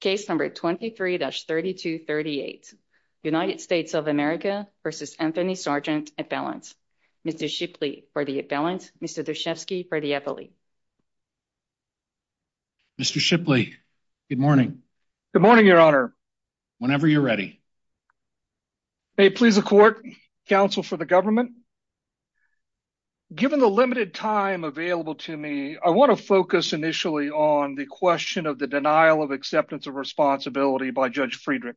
case number 23-3238 United States of America versus Anthony Sargent at balance. Mr. Shipley for the balance. Mr. Dushevsky for the Eppley. Mr. Shipley, good morning. Good morning, Your Honor. Whenever you're ready. May it please the court, counsel for the government. Given the limited time available to me, I want to focus initially on the question of the denial of acceptance of responsibility by Judge Friedrich.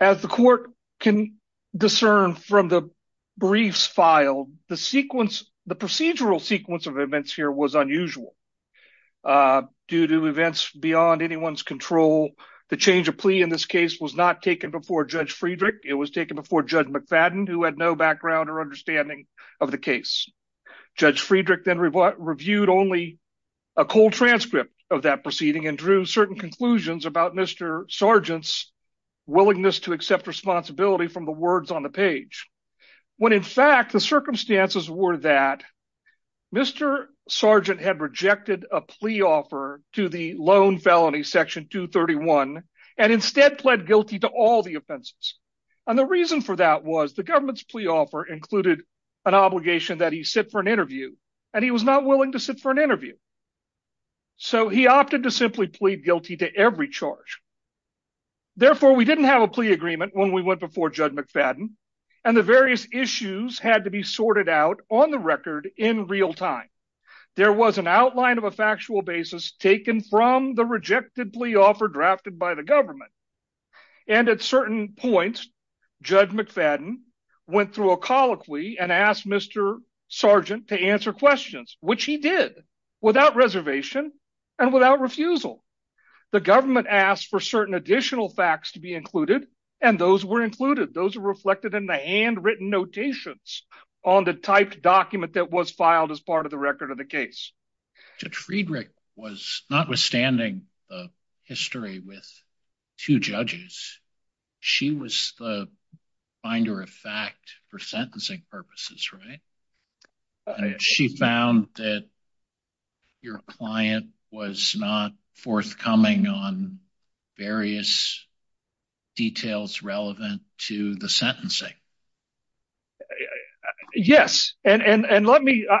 As the court can discern from the briefs filed, the sequence, the procedural sequence of events here was unusual. Due to events beyond anyone's control, the change of plea in this case was not taken before Judge Friedrich. It was taken before Judge McFadden, who had no background or understanding of the case. Judge Friedrich then reviewed only a cold transcript of that proceeding and drew certain conclusions about Mr. Sargent's willingness to accept responsibility from the words on the page. When in fact, the circumstances were that Mr. Sargent had rejected a plea offer to the loan felony section 231 and instead pled guilty to all the offenses. And the reason for that was the government's plea offer included an obligation that he sit for an interview, and he was not willing to sit for an interview. So he opted to simply plead guilty to every charge. Therefore, we didn't have a plea agreement when we went before Judge McFadden, and the various issues had to be sorted out on the record in real time. There was an outline of a factual basis taken from the rejected plea offer drafted by the government. And at certain points, Judge McFadden went through a colloquy and asked Mr. Sargent to answer questions, which he did without reservation and without refusal. The government asked for certain additional facts to be included, and those were included. Those are reflected in the handwritten notations on the typed document that was filed as part of the record of the case. Judge Friedrich was notwithstanding the history with two judges, she was the finder of fact for sentencing purposes, right? She found that your client was not forthcoming on various details relevant to the sentencing. Yes, and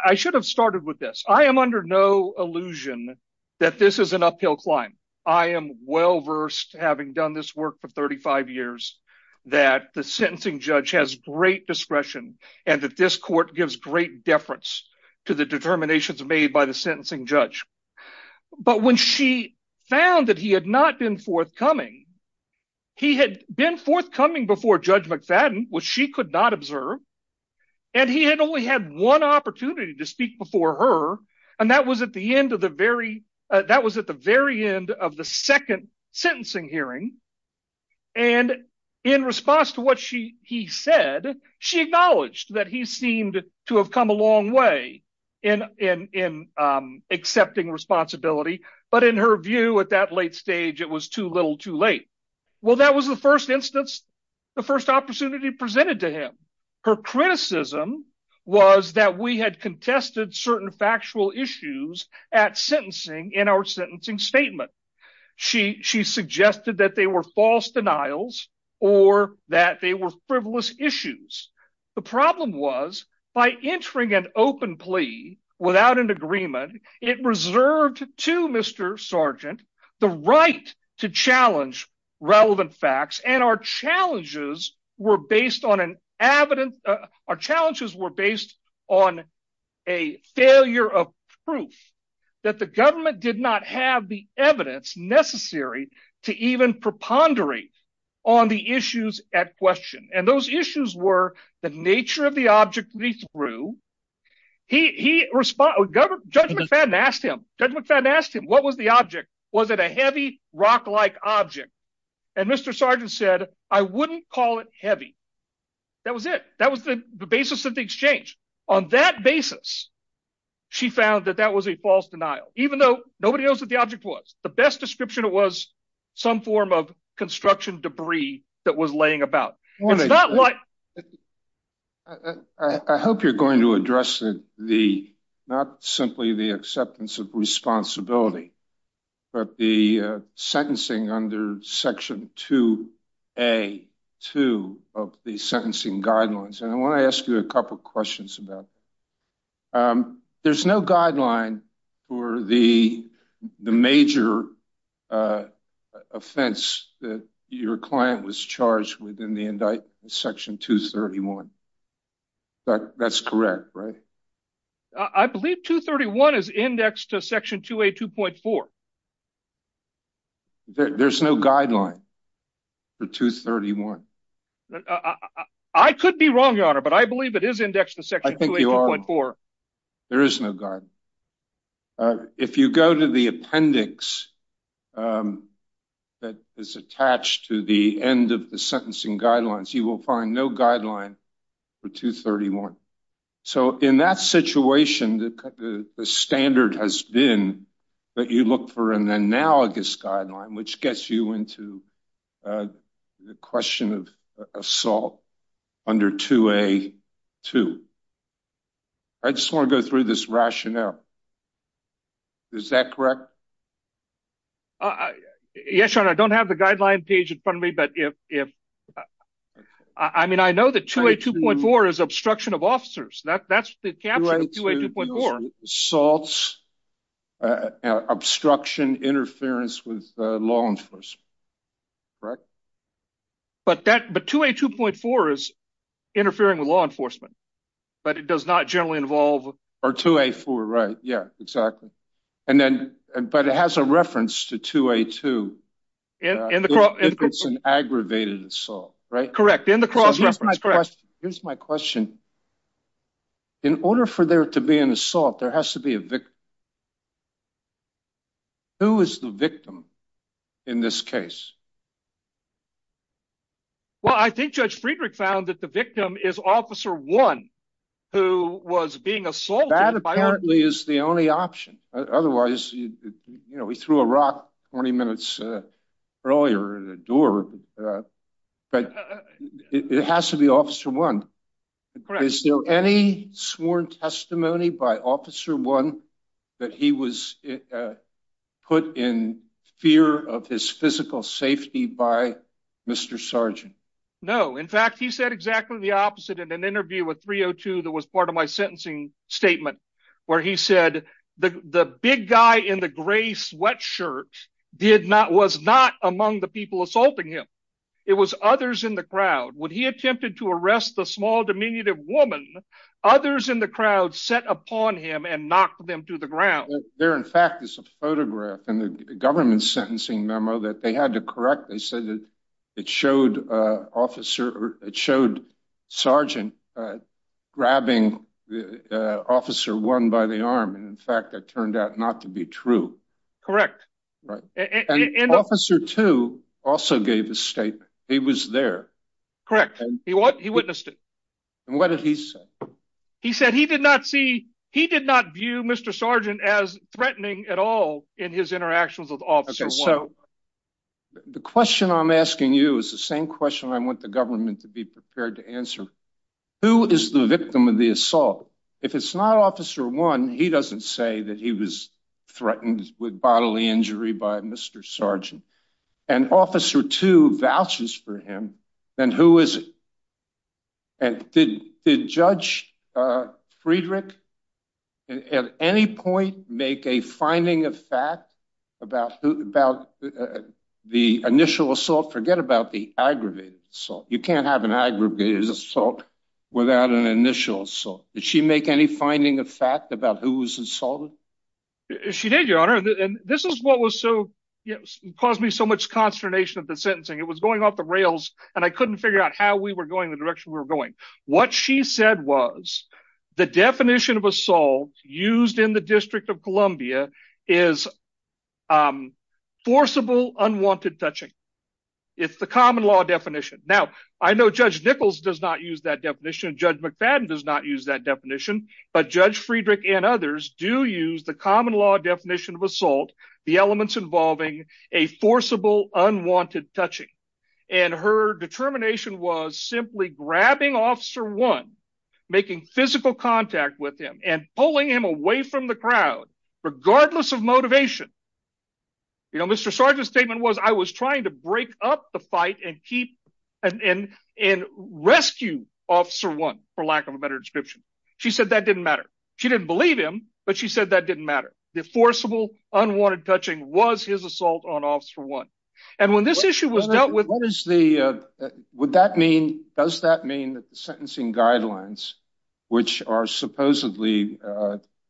I should have started with this. I am under no illusion that this is an uphill climb. I am well-versed, having done this work for 35 years, that the sentencing judge has great discretion and that this court gives great deference to the determinations made by the sentencing judge. But when she found that he had not been forthcoming, he had been forthcoming before Judge McFadden, which she could not observe. And he had only had one opportunity to speak before her, and that was at the very end of the second sentencing hearing. And in response to what he said, she acknowledged that he seemed to have come a long way in accepting responsibility. But in her view, at that late stage, it was too little, too late. Well, that was the first instance, the first opportunity presented to him. Her criticism was that we had contested certain factual issues at sentencing in our sentencing statement. She suggested that they were false denials or that they were frivolous issues. The problem was, by entering an open plea without an agreement, it reserved to Mr. Sargent the right to challenge relevant facts. And our challenges were based on a failure of proof that the government did not have the evidence necessary to even preponderate on the issues at question. And those issues were the nature of the object we threw. Judge McFadden asked him, what was the object? Was it a heavy, rock-like object? And Mr. Sargent said, I wouldn't call it heavy. That was it. That was the basis of the exchange. On that basis, she found that that was a false denial, even though nobody knows what the object was. The best description was some form of construction debris that was laying about. I hope you're going to address the, not simply the acceptance of responsibility, but the sentencing under Section 2A-2 of the sentencing guidelines. And I want to ask you a couple of questions about that. There's no guideline for the major offense that your client was charged with in the indictment of Section 231. That's correct, right? I believe 231 is indexed to Section 2A-2.4. There's no guideline for 231? I could be wrong, Your Honor, but I believe it is indexed to Section 2A-2.4. There is no guideline. If you go to the appendix that is attached to the end of the sentencing guidelines, you will find no guideline for 231. So in that situation, the standard has been that you look for an analogous guideline, which gets you into the question of assault under 2A-2. I just want to go through this rationale. Is that correct? Yes, Your Honor. I don't have the guideline page in front of me. I mean, I know that 2A-2.4 is obstruction of officers. That's the caption of 2A-2.4. Assaults, obstruction, interference with law enforcement. Correct? But 2A-2.4 is interfering with law enforcement. But it does not generally involve... Or 2A-4, right. Yeah, exactly. But it has a reference to 2A-2 if it's an aggravated assault, right? Correct. In the cross reference, correct. Here's my question. In order for there to be an assault, there has to be a victim. Who is the victim in this case? Well, I think Judge Friedrich found that the victim is Officer 1 who was being assaulted. That apparently is the only option. Otherwise, you know, he threw a rock 20 minutes earlier at a door. But it has to be Officer 1. Is there any sworn testimony by Officer 1 that he was put in fear of his physical safety by Mr. Sargent? No. In fact, he said exactly the opposite in an interview with 302 that was part of my sentencing statement. Where he said the big guy in the gray sweatshirt was not among the people assaulting him. It was others in the crowd. When he attempted to arrest the small diminutive woman, others in the crowd set upon him and knocked them to the ground. There, in fact, is a photograph in the government sentencing memo that they had to correct. They said that it showed Sargent grabbing Officer 1 by the arm. And in fact, that turned out not to be true. Correct. And Officer 2 also gave a statement. He was there. Correct. He witnessed it. And what did he say? He said he did not view Mr. Sargent as threatening at all in his interactions with Officer 1. The question I'm asking you is the same question I want the government to be prepared to answer. Who is the victim of the assault? If it's not Officer 1, he doesn't say that he was threatened with bodily injury by Mr. Sargent. And Officer 2 vouches for him, then who is it? And did Judge Friedrich at any point make a finding of fact about the initial assault? Forget about the aggravated assault. You can't have an aggravated assault without an initial assault. Did she make any finding of fact about who was assaulted? She did, Your Honor. And this is what caused me so much consternation at the sentencing. It was going off the rails and I couldn't figure out how we were going, the direction we were going. What she said was the definition of assault used in the District of Columbia is forcible unwanted touching. It's the common law definition. I know Judge Nichols does not use that definition. Judge McFadden does not use that definition. But Judge Friedrich and others do use the common law definition of assault, the elements involving a forcible unwanted touching. And her determination was simply grabbing Officer 1, making physical contact with him and pulling him away from the crowd, regardless of motivation. You know, Mr. Sargent's statement was, I was trying to break up the fight and rescue Officer 1, for lack of a better description. She said that didn't matter. She didn't believe him, but she said that didn't matter. The forcible unwanted touching was his assault on Officer 1. And when this issue was dealt with... Does that mean that the sentencing guidelines, which are supposedly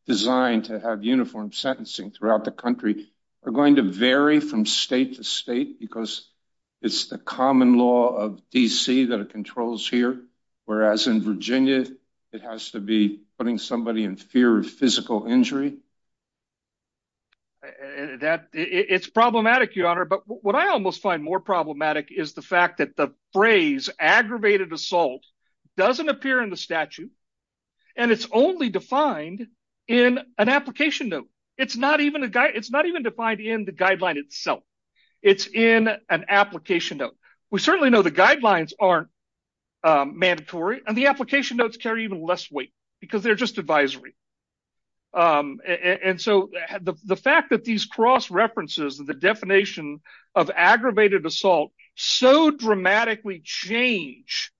designed to have uniform sentencing throughout the country, are going to vary from state to state because it's the common law of D.C. that it controls here, whereas in Virginia, it has to be putting somebody in fear of physical injury? It's problematic, Your Honor. But what I almost find more problematic is the fact that the phrase aggravated assault doesn't appear in the statute, and it's only defined in an application note. It's not even defined in the guideline itself. It's in an application note. We certainly know the guidelines aren't mandatory, and the application notes carry even less weight because they're just advisory. And so the fact that these cross-references, the definition of aggravated assault, so dramatically change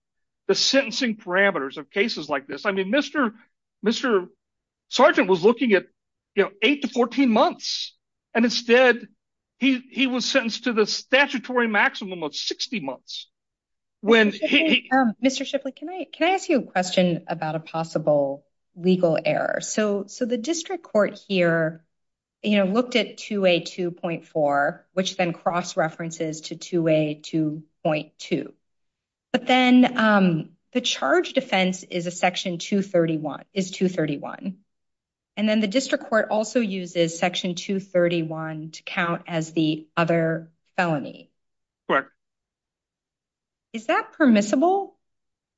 the sentencing parameters of cases like this. I mean, Mr. Sergeant was looking at 8 to 14 months, and instead he was sentenced to the statutory maximum of 60 months. Mr. Shipley, can I ask you a question about a possible legal error? So the district court here looked at 2A2.4, which then cross-references to 2A2.2. But then the charge defense is Section 231. And then the district court also uses Section 231 to count as the other felony. Correct. Is that permissible?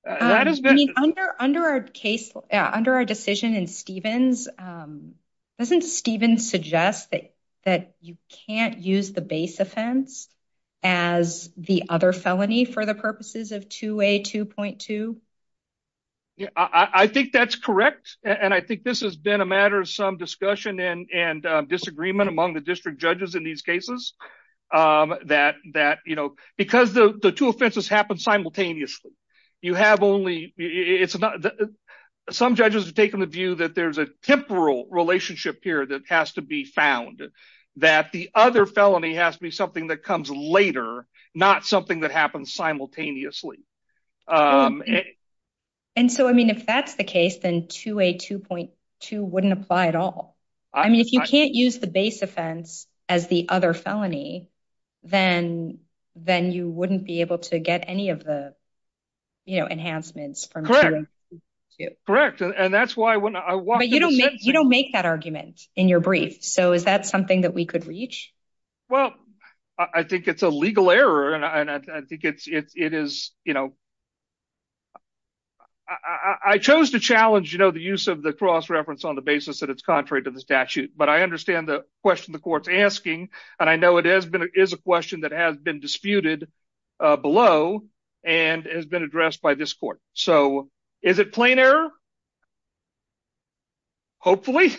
Under our decision in Stevens, doesn't Stevens suggest that you can't use the base offense as the other felony for the purposes of 2A2.2? I think that's correct, and I think this has been a matter of some discussion and disagreement among the district judges in these cases because the two offenses happen simultaneously. Some judges have taken the view that there's a temporal relationship here that has to be found, that the other felony has to be something that comes later, not something that happens simultaneously. And so, I mean, if that's the case, then 2A2.2 wouldn't apply at all. I mean, if you can't use the base offense as the other felony, then you wouldn't be able to get any of the, you know, enhancements from 2A2.2. Correct, and that's why when I walked into the sentencing... But you don't make that argument in your brief, so is that something that we could reach? Well, I think it's a legal error, and I think it is, you know... I chose to challenge, you know, the use of the cross-reference on the basis that it's contrary to the statute, but I understand the question the court's asking, and I know it is a question that has been disputed below and has been addressed by this court. So is it plain error? Hopefully.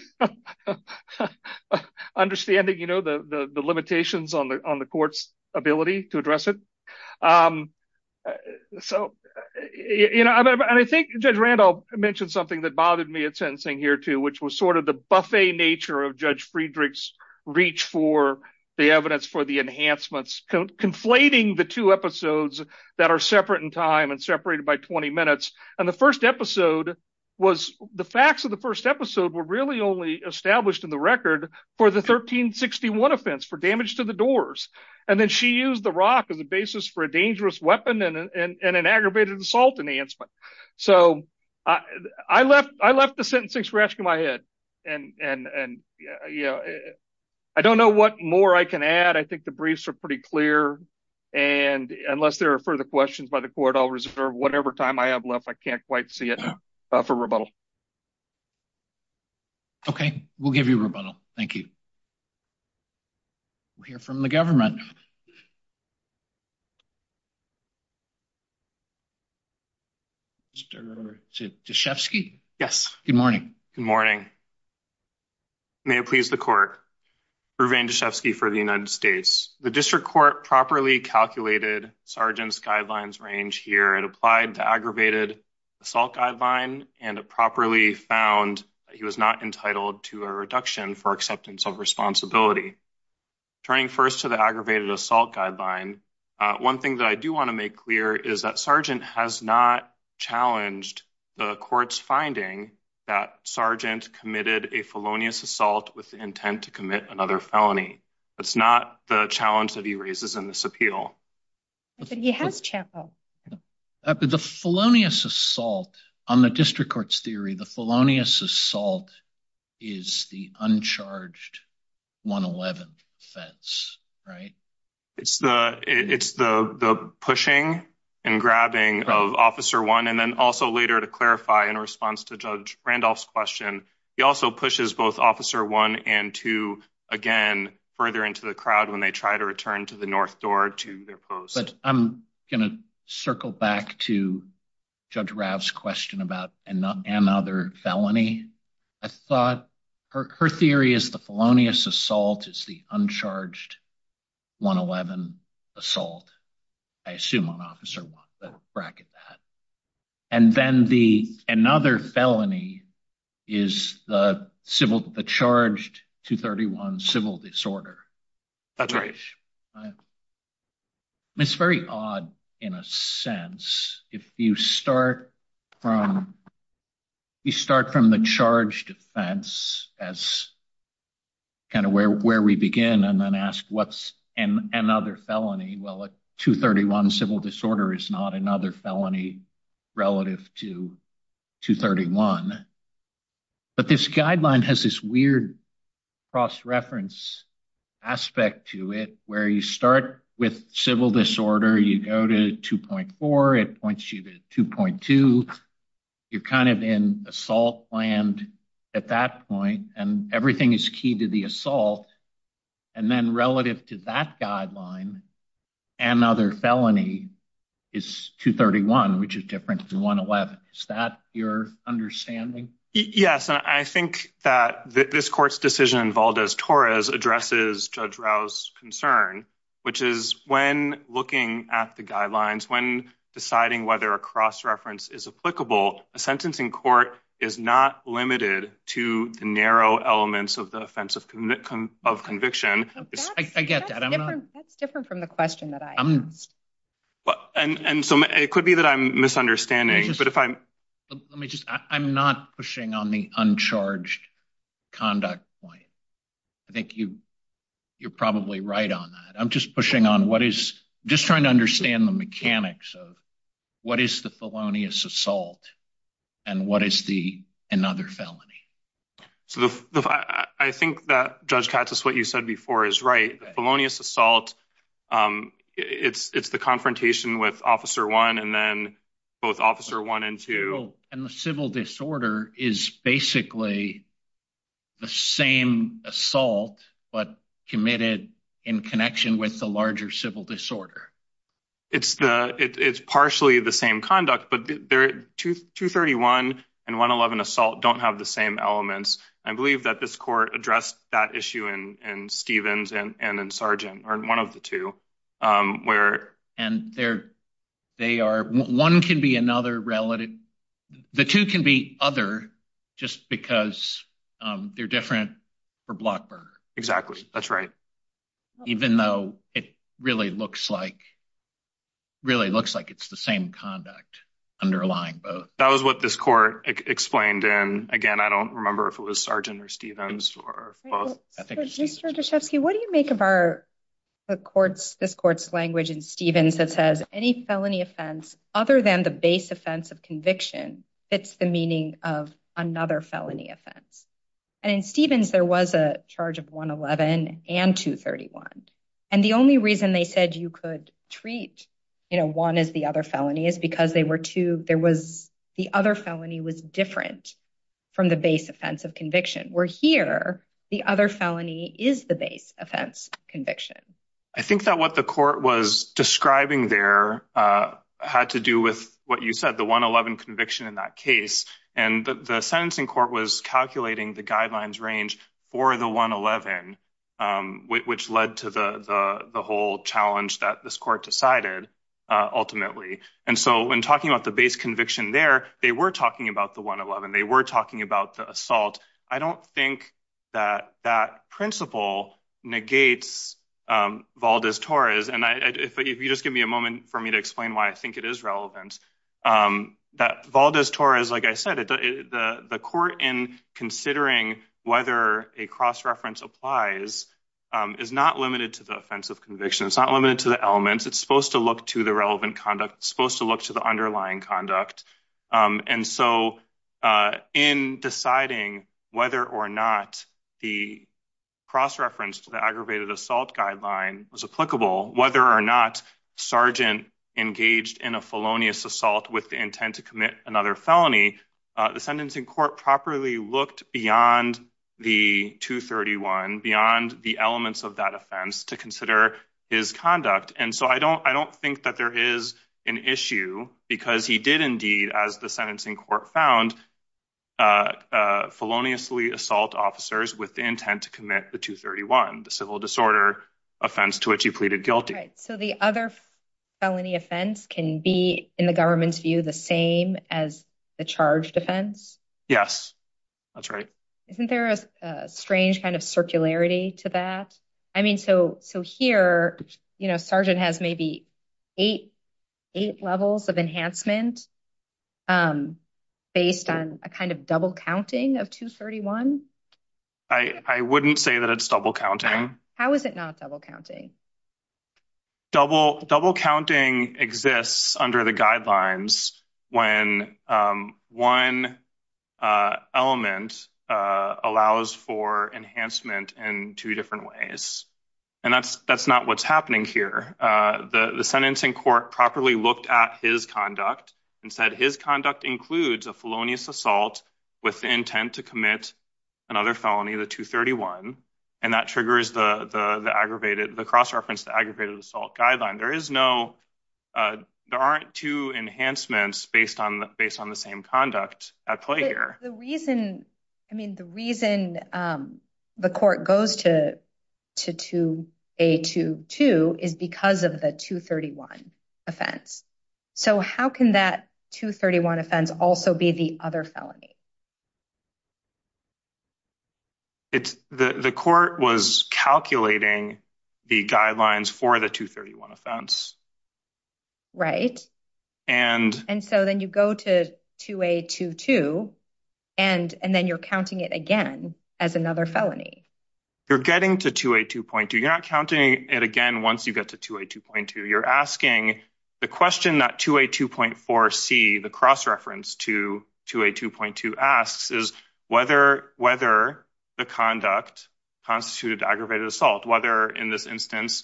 Understanding, you know, the limitations on the court's ability to address it. So, you know, and I think Judge Randolph mentioned something that bothered me at sentencing here, too, which was sort of the buffet nature of Judge Friedrich's reach for the evidence for the enhancements, conflating the two episodes that are separate in time and separated by 20 minutes. And the first episode was... the facts of the first episode were really only established in the record for the 1361 offense, for damage to the doors. And then she used the rock as a basis for a dangerous weapon and an aggravated assault enhancement. So I left the sentencing scratch on my head, and, you know, I don't know what more I can add. I think the briefs are pretty clear, and unless there are further questions by the court, I'll reserve whatever time I have left. I can't quite see it for rebuttal. Okay, we'll give you rebuttal. Thank you. We'll hear from the government. Mr. Dashefsky? Yes. Good morning. Good morning. May it please the court. Revan Dashefsky for the United States. The district court properly calculated Sargent's guidelines range here and applied the aggravated assault guideline, and it properly found that he was not entitled to a reduction for acceptance of responsibility. Turning first to the aggravated assault guideline, one thing that I do want to make clear is that Sargent has not challenged the court's finding that Sargent committed a felonious assault with the intent to commit another felony. That's not the challenge that he raises in this appeal. But he has challenged. The felonious assault on the district court's theory, the felonious assault is the uncharged 111 offense, right? It's the pushing and grabbing of Officer 1, and then also later to clarify in response to Judge Randolph's question, he also pushes both Officer 1 and 2 again further into the crowd when they try to return to the north door to their post. But I'm going to circle back to Judge Rav's question about another felony. I thought her theory is the felonious assault is the uncharged 111 assault. I assume on Officer 1, but bracket that. And then another felony is the charged 231 civil disorder. That's right. It's very odd in a sense. If you start from the charged offense as kind of where we begin and then ask what's another felony? Well, a 231 civil disorder is not another felony relative to 231. But this guideline has this weird cross-reference aspect to it where you start with civil disorder, you go to 2.4. It points you to 2.2. You're kind of in assault land at that point, and everything is key to the assault. And then relative to that guideline, another felony is 231, which is different from 111. Is that your understanding? Yes, and I think that this court's decision in Valdez-Torres addresses Judge Rav's concern, which is when looking at the guidelines, when deciding whether a cross-reference is applicable, a sentence in court is not limited to the narrow elements of the offense of conviction. I get that. That's different from the question that I asked. And so it could be that I'm misunderstanding. I'm not pushing on the uncharged conduct point. I think you're probably right on that. I'm just trying to understand the mechanics of what is the felonious assault and what is another felony. I think that, Judge Katsas, what you said before is right. The felonious assault, it's the confrontation with Officer 1 and then both Officer 1 and 2. And the civil disorder is basically the same assault, but committed in connection with the larger civil disorder. It's partially the same conduct, but 231 and 111 assault don't have the same elements. I believe that this court addressed that issue in Stevens and in Sargent, or one of the two. And one can be another relative. The two can be other just because they're different for Blockburn. Exactly. That's right. Even though it really looks like it's the same conduct underlying both. That was what this court explained. And again, I don't remember if it was Sargent or Stevens or both. Mr. Dashefsky, what do you make of this court's language in Stevens that says any felony offense other than the base offense of conviction fits the meaning of another felony offense? And in Stevens, there was a charge of 111 and 231. And the only reason they said you could treat one as the other felony is because the other felony was different from the base offense of conviction. Where here, the other felony is the base offense conviction. I think that what the court was describing there had to do with what you said, the 111 conviction in that case. And the sentencing court was calculating the guidelines range for the 111, which led to the whole challenge that this court decided ultimately. And so when talking about the base conviction there, they were talking about the 111. They were talking about the assault. And I don't think that that principle negates Valdez-Torres. And if you just give me a moment for me to explain why I think it is relevant, that Valdez-Torres, like I said, the court in considering whether a cross-reference applies is not limited to the offense of conviction. It's not limited to the elements. It's supposed to look to the relevant conduct. It's supposed to look to the underlying conduct. And so in deciding whether or not the cross-reference to the aggravated assault guideline was applicable, whether or not Sergeant engaged in a felonious assault with the intent to commit another felony, the sentencing court properly looked beyond the 231, beyond the elements of that offense to consider his conduct. And so I don't think that there is an issue because he did indeed, as the sentencing court found, feloniously assault officers with the intent to commit the 231, the civil disorder offense to which he pleaded guilty. So the other felony offense can be, in the government's view, the same as the charged offense? Yes, that's right. Isn't there a strange kind of circularity to that? I mean, so here Sergeant has maybe eight levels of enhancement based on a kind of double counting of 231? I wouldn't say that it's double counting. How is it not double counting? Double counting exists under the guidelines when one element allows for enhancement in two different ways. And that's not what's happening here. The sentencing court properly looked at his conduct and said his conduct includes a felonious assault with the intent to commit another felony, the 231. And that triggers the cross-reference to the aggravated assault guideline. There aren't two enhancements based on the same conduct at play here. The reason the court goes to 2A22 is because of the 231 offense. So how can that 231 offense also be the other felony? The court was calculating the guidelines for the 231 offense. Right. And so then you go to 2A22 and then you're counting it again as another felony. You're getting to 2A2.2. You're not counting it again once you get to 2A2.2. You're asking the question that 2A2.4C, the cross-reference to 2A2.2 asks is whether the conduct constituted aggravated assault. Whether in this instance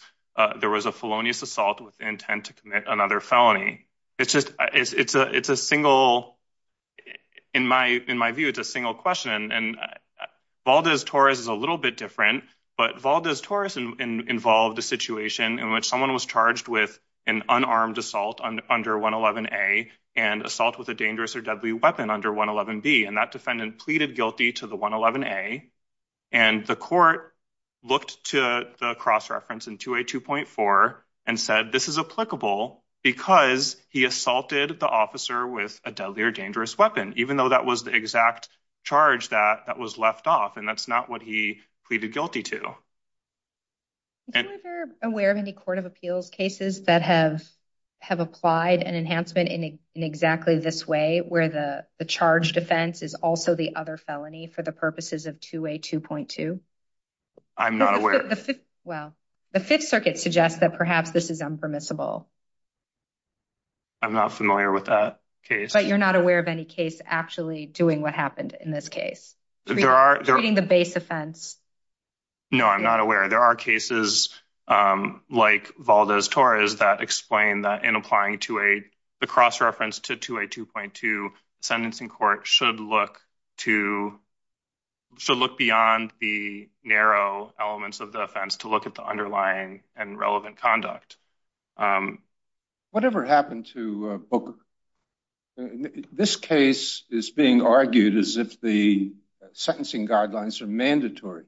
there was a felonious assault with intent to commit another felony. It's a single, in my view, it's a single question. And Valdez-Torres is a little bit different, but Valdez-Torres involved a situation in which someone was charged with an unarmed assault under 111A and assault with a dangerous or deadly weapon under 111B. And that defendant pleaded guilty to the 111A. And the court looked to the cross-reference in 2A2.4 and said this is applicable because he assaulted the officer with a deadly or dangerous weapon, even though that was the exact charge that was left off. And that's not what he pleaded guilty to. Are you aware of any court of appeals cases that have applied an enhancement in exactly this way where the charged offense is also the other felony for the purposes of 2A2.2? I'm not aware. Well, the Fifth Circuit suggests that perhaps this is unpermissible. I'm not familiar with that case. But you're not aware of any case actually doing what happened in this case? Treating the base offense. No, I'm not aware. There are cases like Valdez-Torres that explain that in applying the cross-reference to 2A2.2, the sentencing court should look beyond the narrow elements of the offense to look at the underlying and relevant conduct. Whatever happened to Booker? This case is being argued as if the sentencing guidelines are mandatory.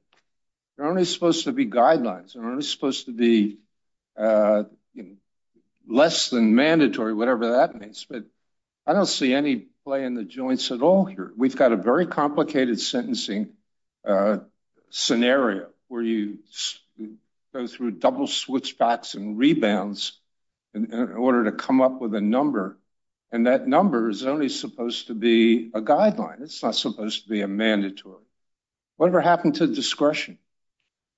They're only supposed to be guidelines. They're only supposed to be less than mandatory, whatever that means. But I don't see any play in the joints at all here. We've got a very complicated sentencing scenario where you go through double switchbacks and rebounds in order to come up with a number. And that number is only supposed to be a guideline. It's not supposed to be a mandatory. Whatever happened to discretion?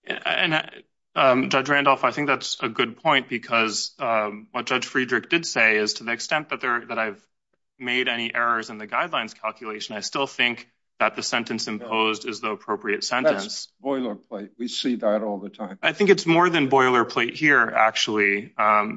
Judge Randolph, I think that's a good point because what Judge Friedrich did say is to the extent that I've made any errors in the guidelines calculation, I still think that the sentence imposed is the appropriate sentence. That's boilerplate. We see that all the time. I think it's more than boilerplate here, actually.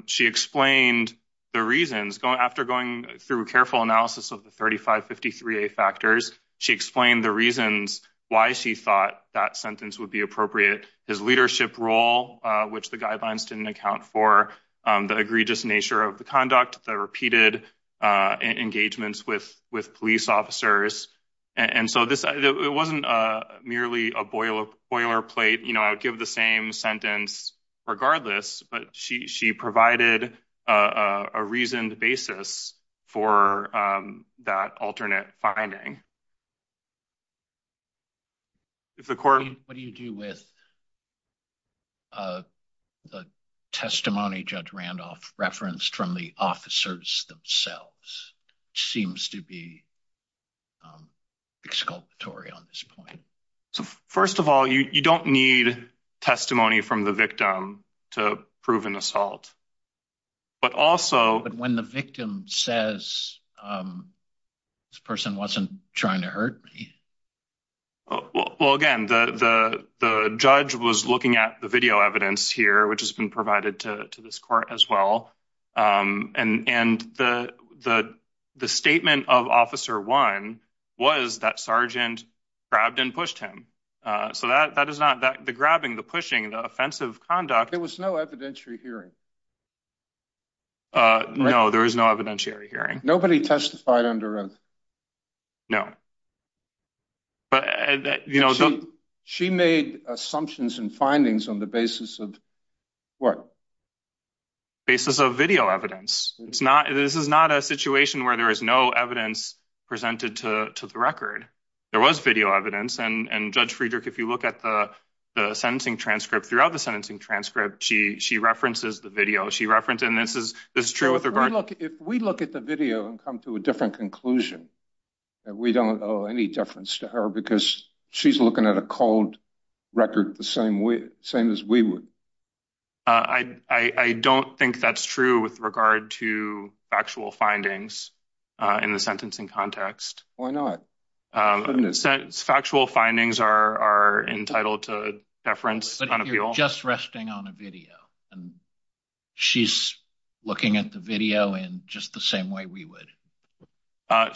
She explained the reasons. After going through a careful analysis of the 3553A factors, she explained the reasons why she thought that sentence would be appropriate. His leadership role, which the guidelines didn't account for, the egregious nature of the conduct, the repeated engagements with police officers. It wasn't merely a boilerplate. I would give the same sentence regardless, but she provided a reasoned basis for that alternate finding. What do you do with the testimony Judge Randolph referenced from the officers themselves? Seems to be exculpatory on this point. So, first of all, you don't need testimony from the victim to prove an assault. But when the victim says, this person wasn't trying to hurt me. Well, again, the judge was looking at the video evidence here, which has been provided to this court as well. And the statement of Officer 1 was that Sergeant grabbed and pushed him. So that is not the grabbing, the pushing, the offensive conduct. There was no evidentiary hearing. No, there was no evidentiary hearing. Nobody testified under oath? She made assumptions and findings on the basis of what? Basis of video evidence. This is not a situation where there is no evidence presented to the record. There was video evidence. And Judge Friedrich, if you look at the sentencing transcript, throughout the sentencing transcript, she references the video. She referenced, and this is true with regard. If we look at the video and come to a different conclusion, we don't owe any difference to her because she's looking at a cold record the same way, same as we would. I don't think that's true with regard to actual findings in the sentencing context. Why not? Factual findings are entitled to deference. But you're just resting on a video, and she's looking at the video in just the same way we would.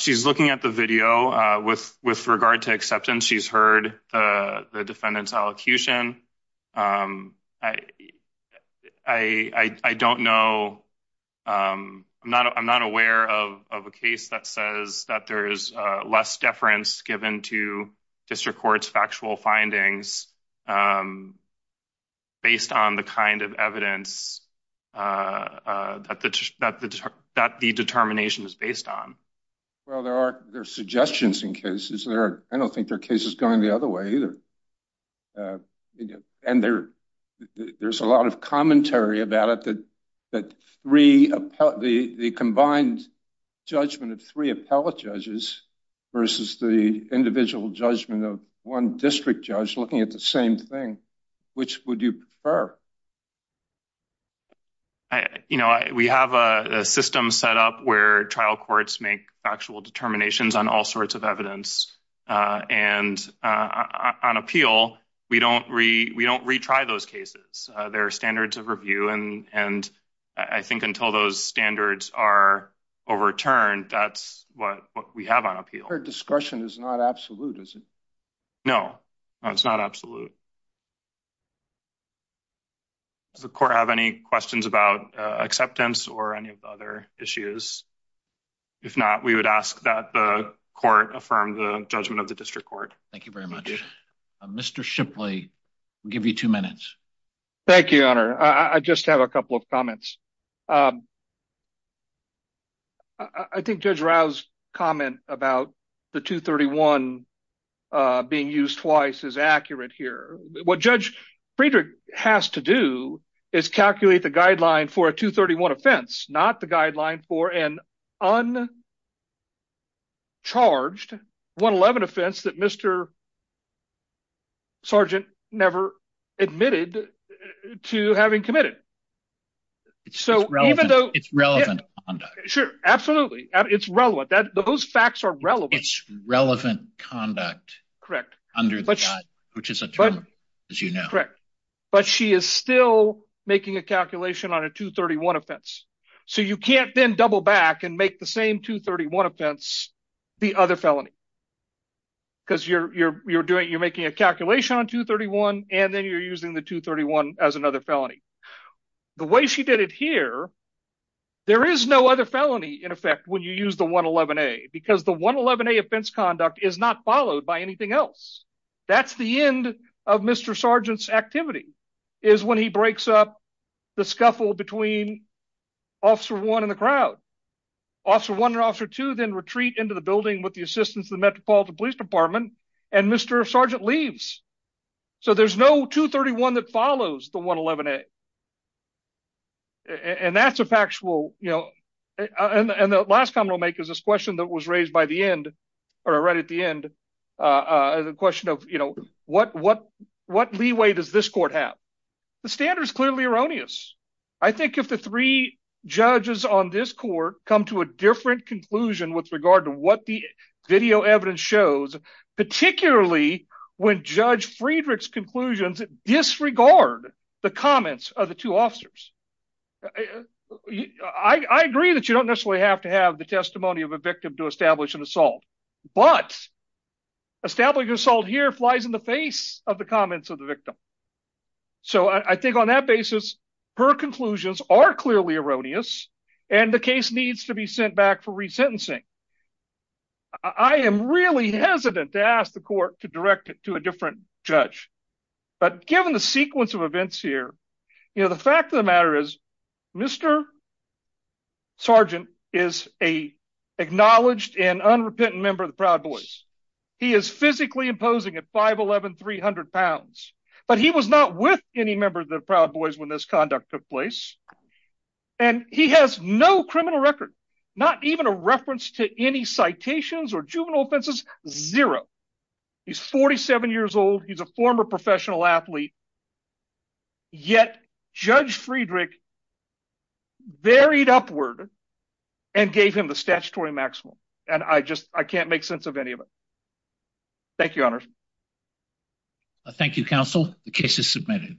She's looking at the video with regard to acceptance. She's heard the defendant's allocution. I don't know. I'm not aware of a case that says that there is less deference given to district courts factual findings based on the kind of evidence that the determination is based on. Well, there are suggestions in cases there. I don't think their case is going the other way either. And there's a lot of commentary about it that the combined judgment of three appellate judges versus the individual judgment of one district judge looking at the same thing, which would you prefer? We have a system set up where trial courts make factual determinations on all sorts of evidence. And on appeal, we don't retry those cases. There are standards of review. And I think until those standards are overturned, that's what we have on appeal. Her discussion is not absolute, is it? No, it's not absolute. Does the court have any questions about acceptance or any of the other issues? If not, we would ask that the court affirm the judgment of the district court. Thank you very much. Mr. Shipley, give you two minutes. Thank you, Honor. I just have a couple of comments. I think Judge Rouse's comment about the 231 being used twice is accurate here. What Judge Friedrich has to do is calculate the guideline for a 231 offense, not the guideline for an uncharged 111 offense that Mr. Sergeant never admitted to having committed. It's relevant conduct. Sure, absolutely. It's relevant. Those facts are relevant. It's relevant conduct under the guideline, which is a term, as you know. But she is still making a calculation on a 231 offense. So you can't then double back and make the same 231 offense the other felony. Because you're making a calculation on 231, and then you're using the 231 as another felony. The way she did it here, there is no other felony in effect when you use the 111A, because the 111A offense conduct is not followed by anything else. That's the end of Mr. Sergeant's activity, is when he breaks up the scuffle between Officer 1 and the crowd. Officer 1 and Officer 2 then retreat into the building with the assistance of the Metropolitan Police Department, and Mr. Sergeant leaves. So there's no 231 that follows the 111A. And that's a factual... And the last comment I'll make is this question that was raised by the end, or right at the end. The question of, you know, what leeway does this court have? The standard is clearly erroneous. I think if the three judges on this court come to a different conclusion with regard to what the video evidence shows, particularly when Judge Friedrich's conclusions disregard the comments of the two officers, I agree that you don't necessarily have to have the testimony of a victim to establish an assault. But, establishing an assault here flies in the face of the comments of the victim. So I think on that basis, her conclusions are clearly erroneous, and the case needs to be sent back for resentencing. I am really hesitant to ask the court to direct it to a different judge. But given the sequence of events here, you know, the fact of the matter is, Mr. Sergeant is an acknowledged and unrepentant member of the Proud Boys. He is physically imposing at 5'11", 300 pounds. But he was not with any member of the Proud Boys when this conduct took place. And he has no criminal record, not even a reference to any citations or juvenile offenses, zero. He's 47 years old. He's a former professional athlete. Yet, Judge Friedrich buried upward and gave him the statutory maximum. And I just, I can't make sense of any of it. Thank you, Your Honor. Thank you, Counsel. The case is submitted.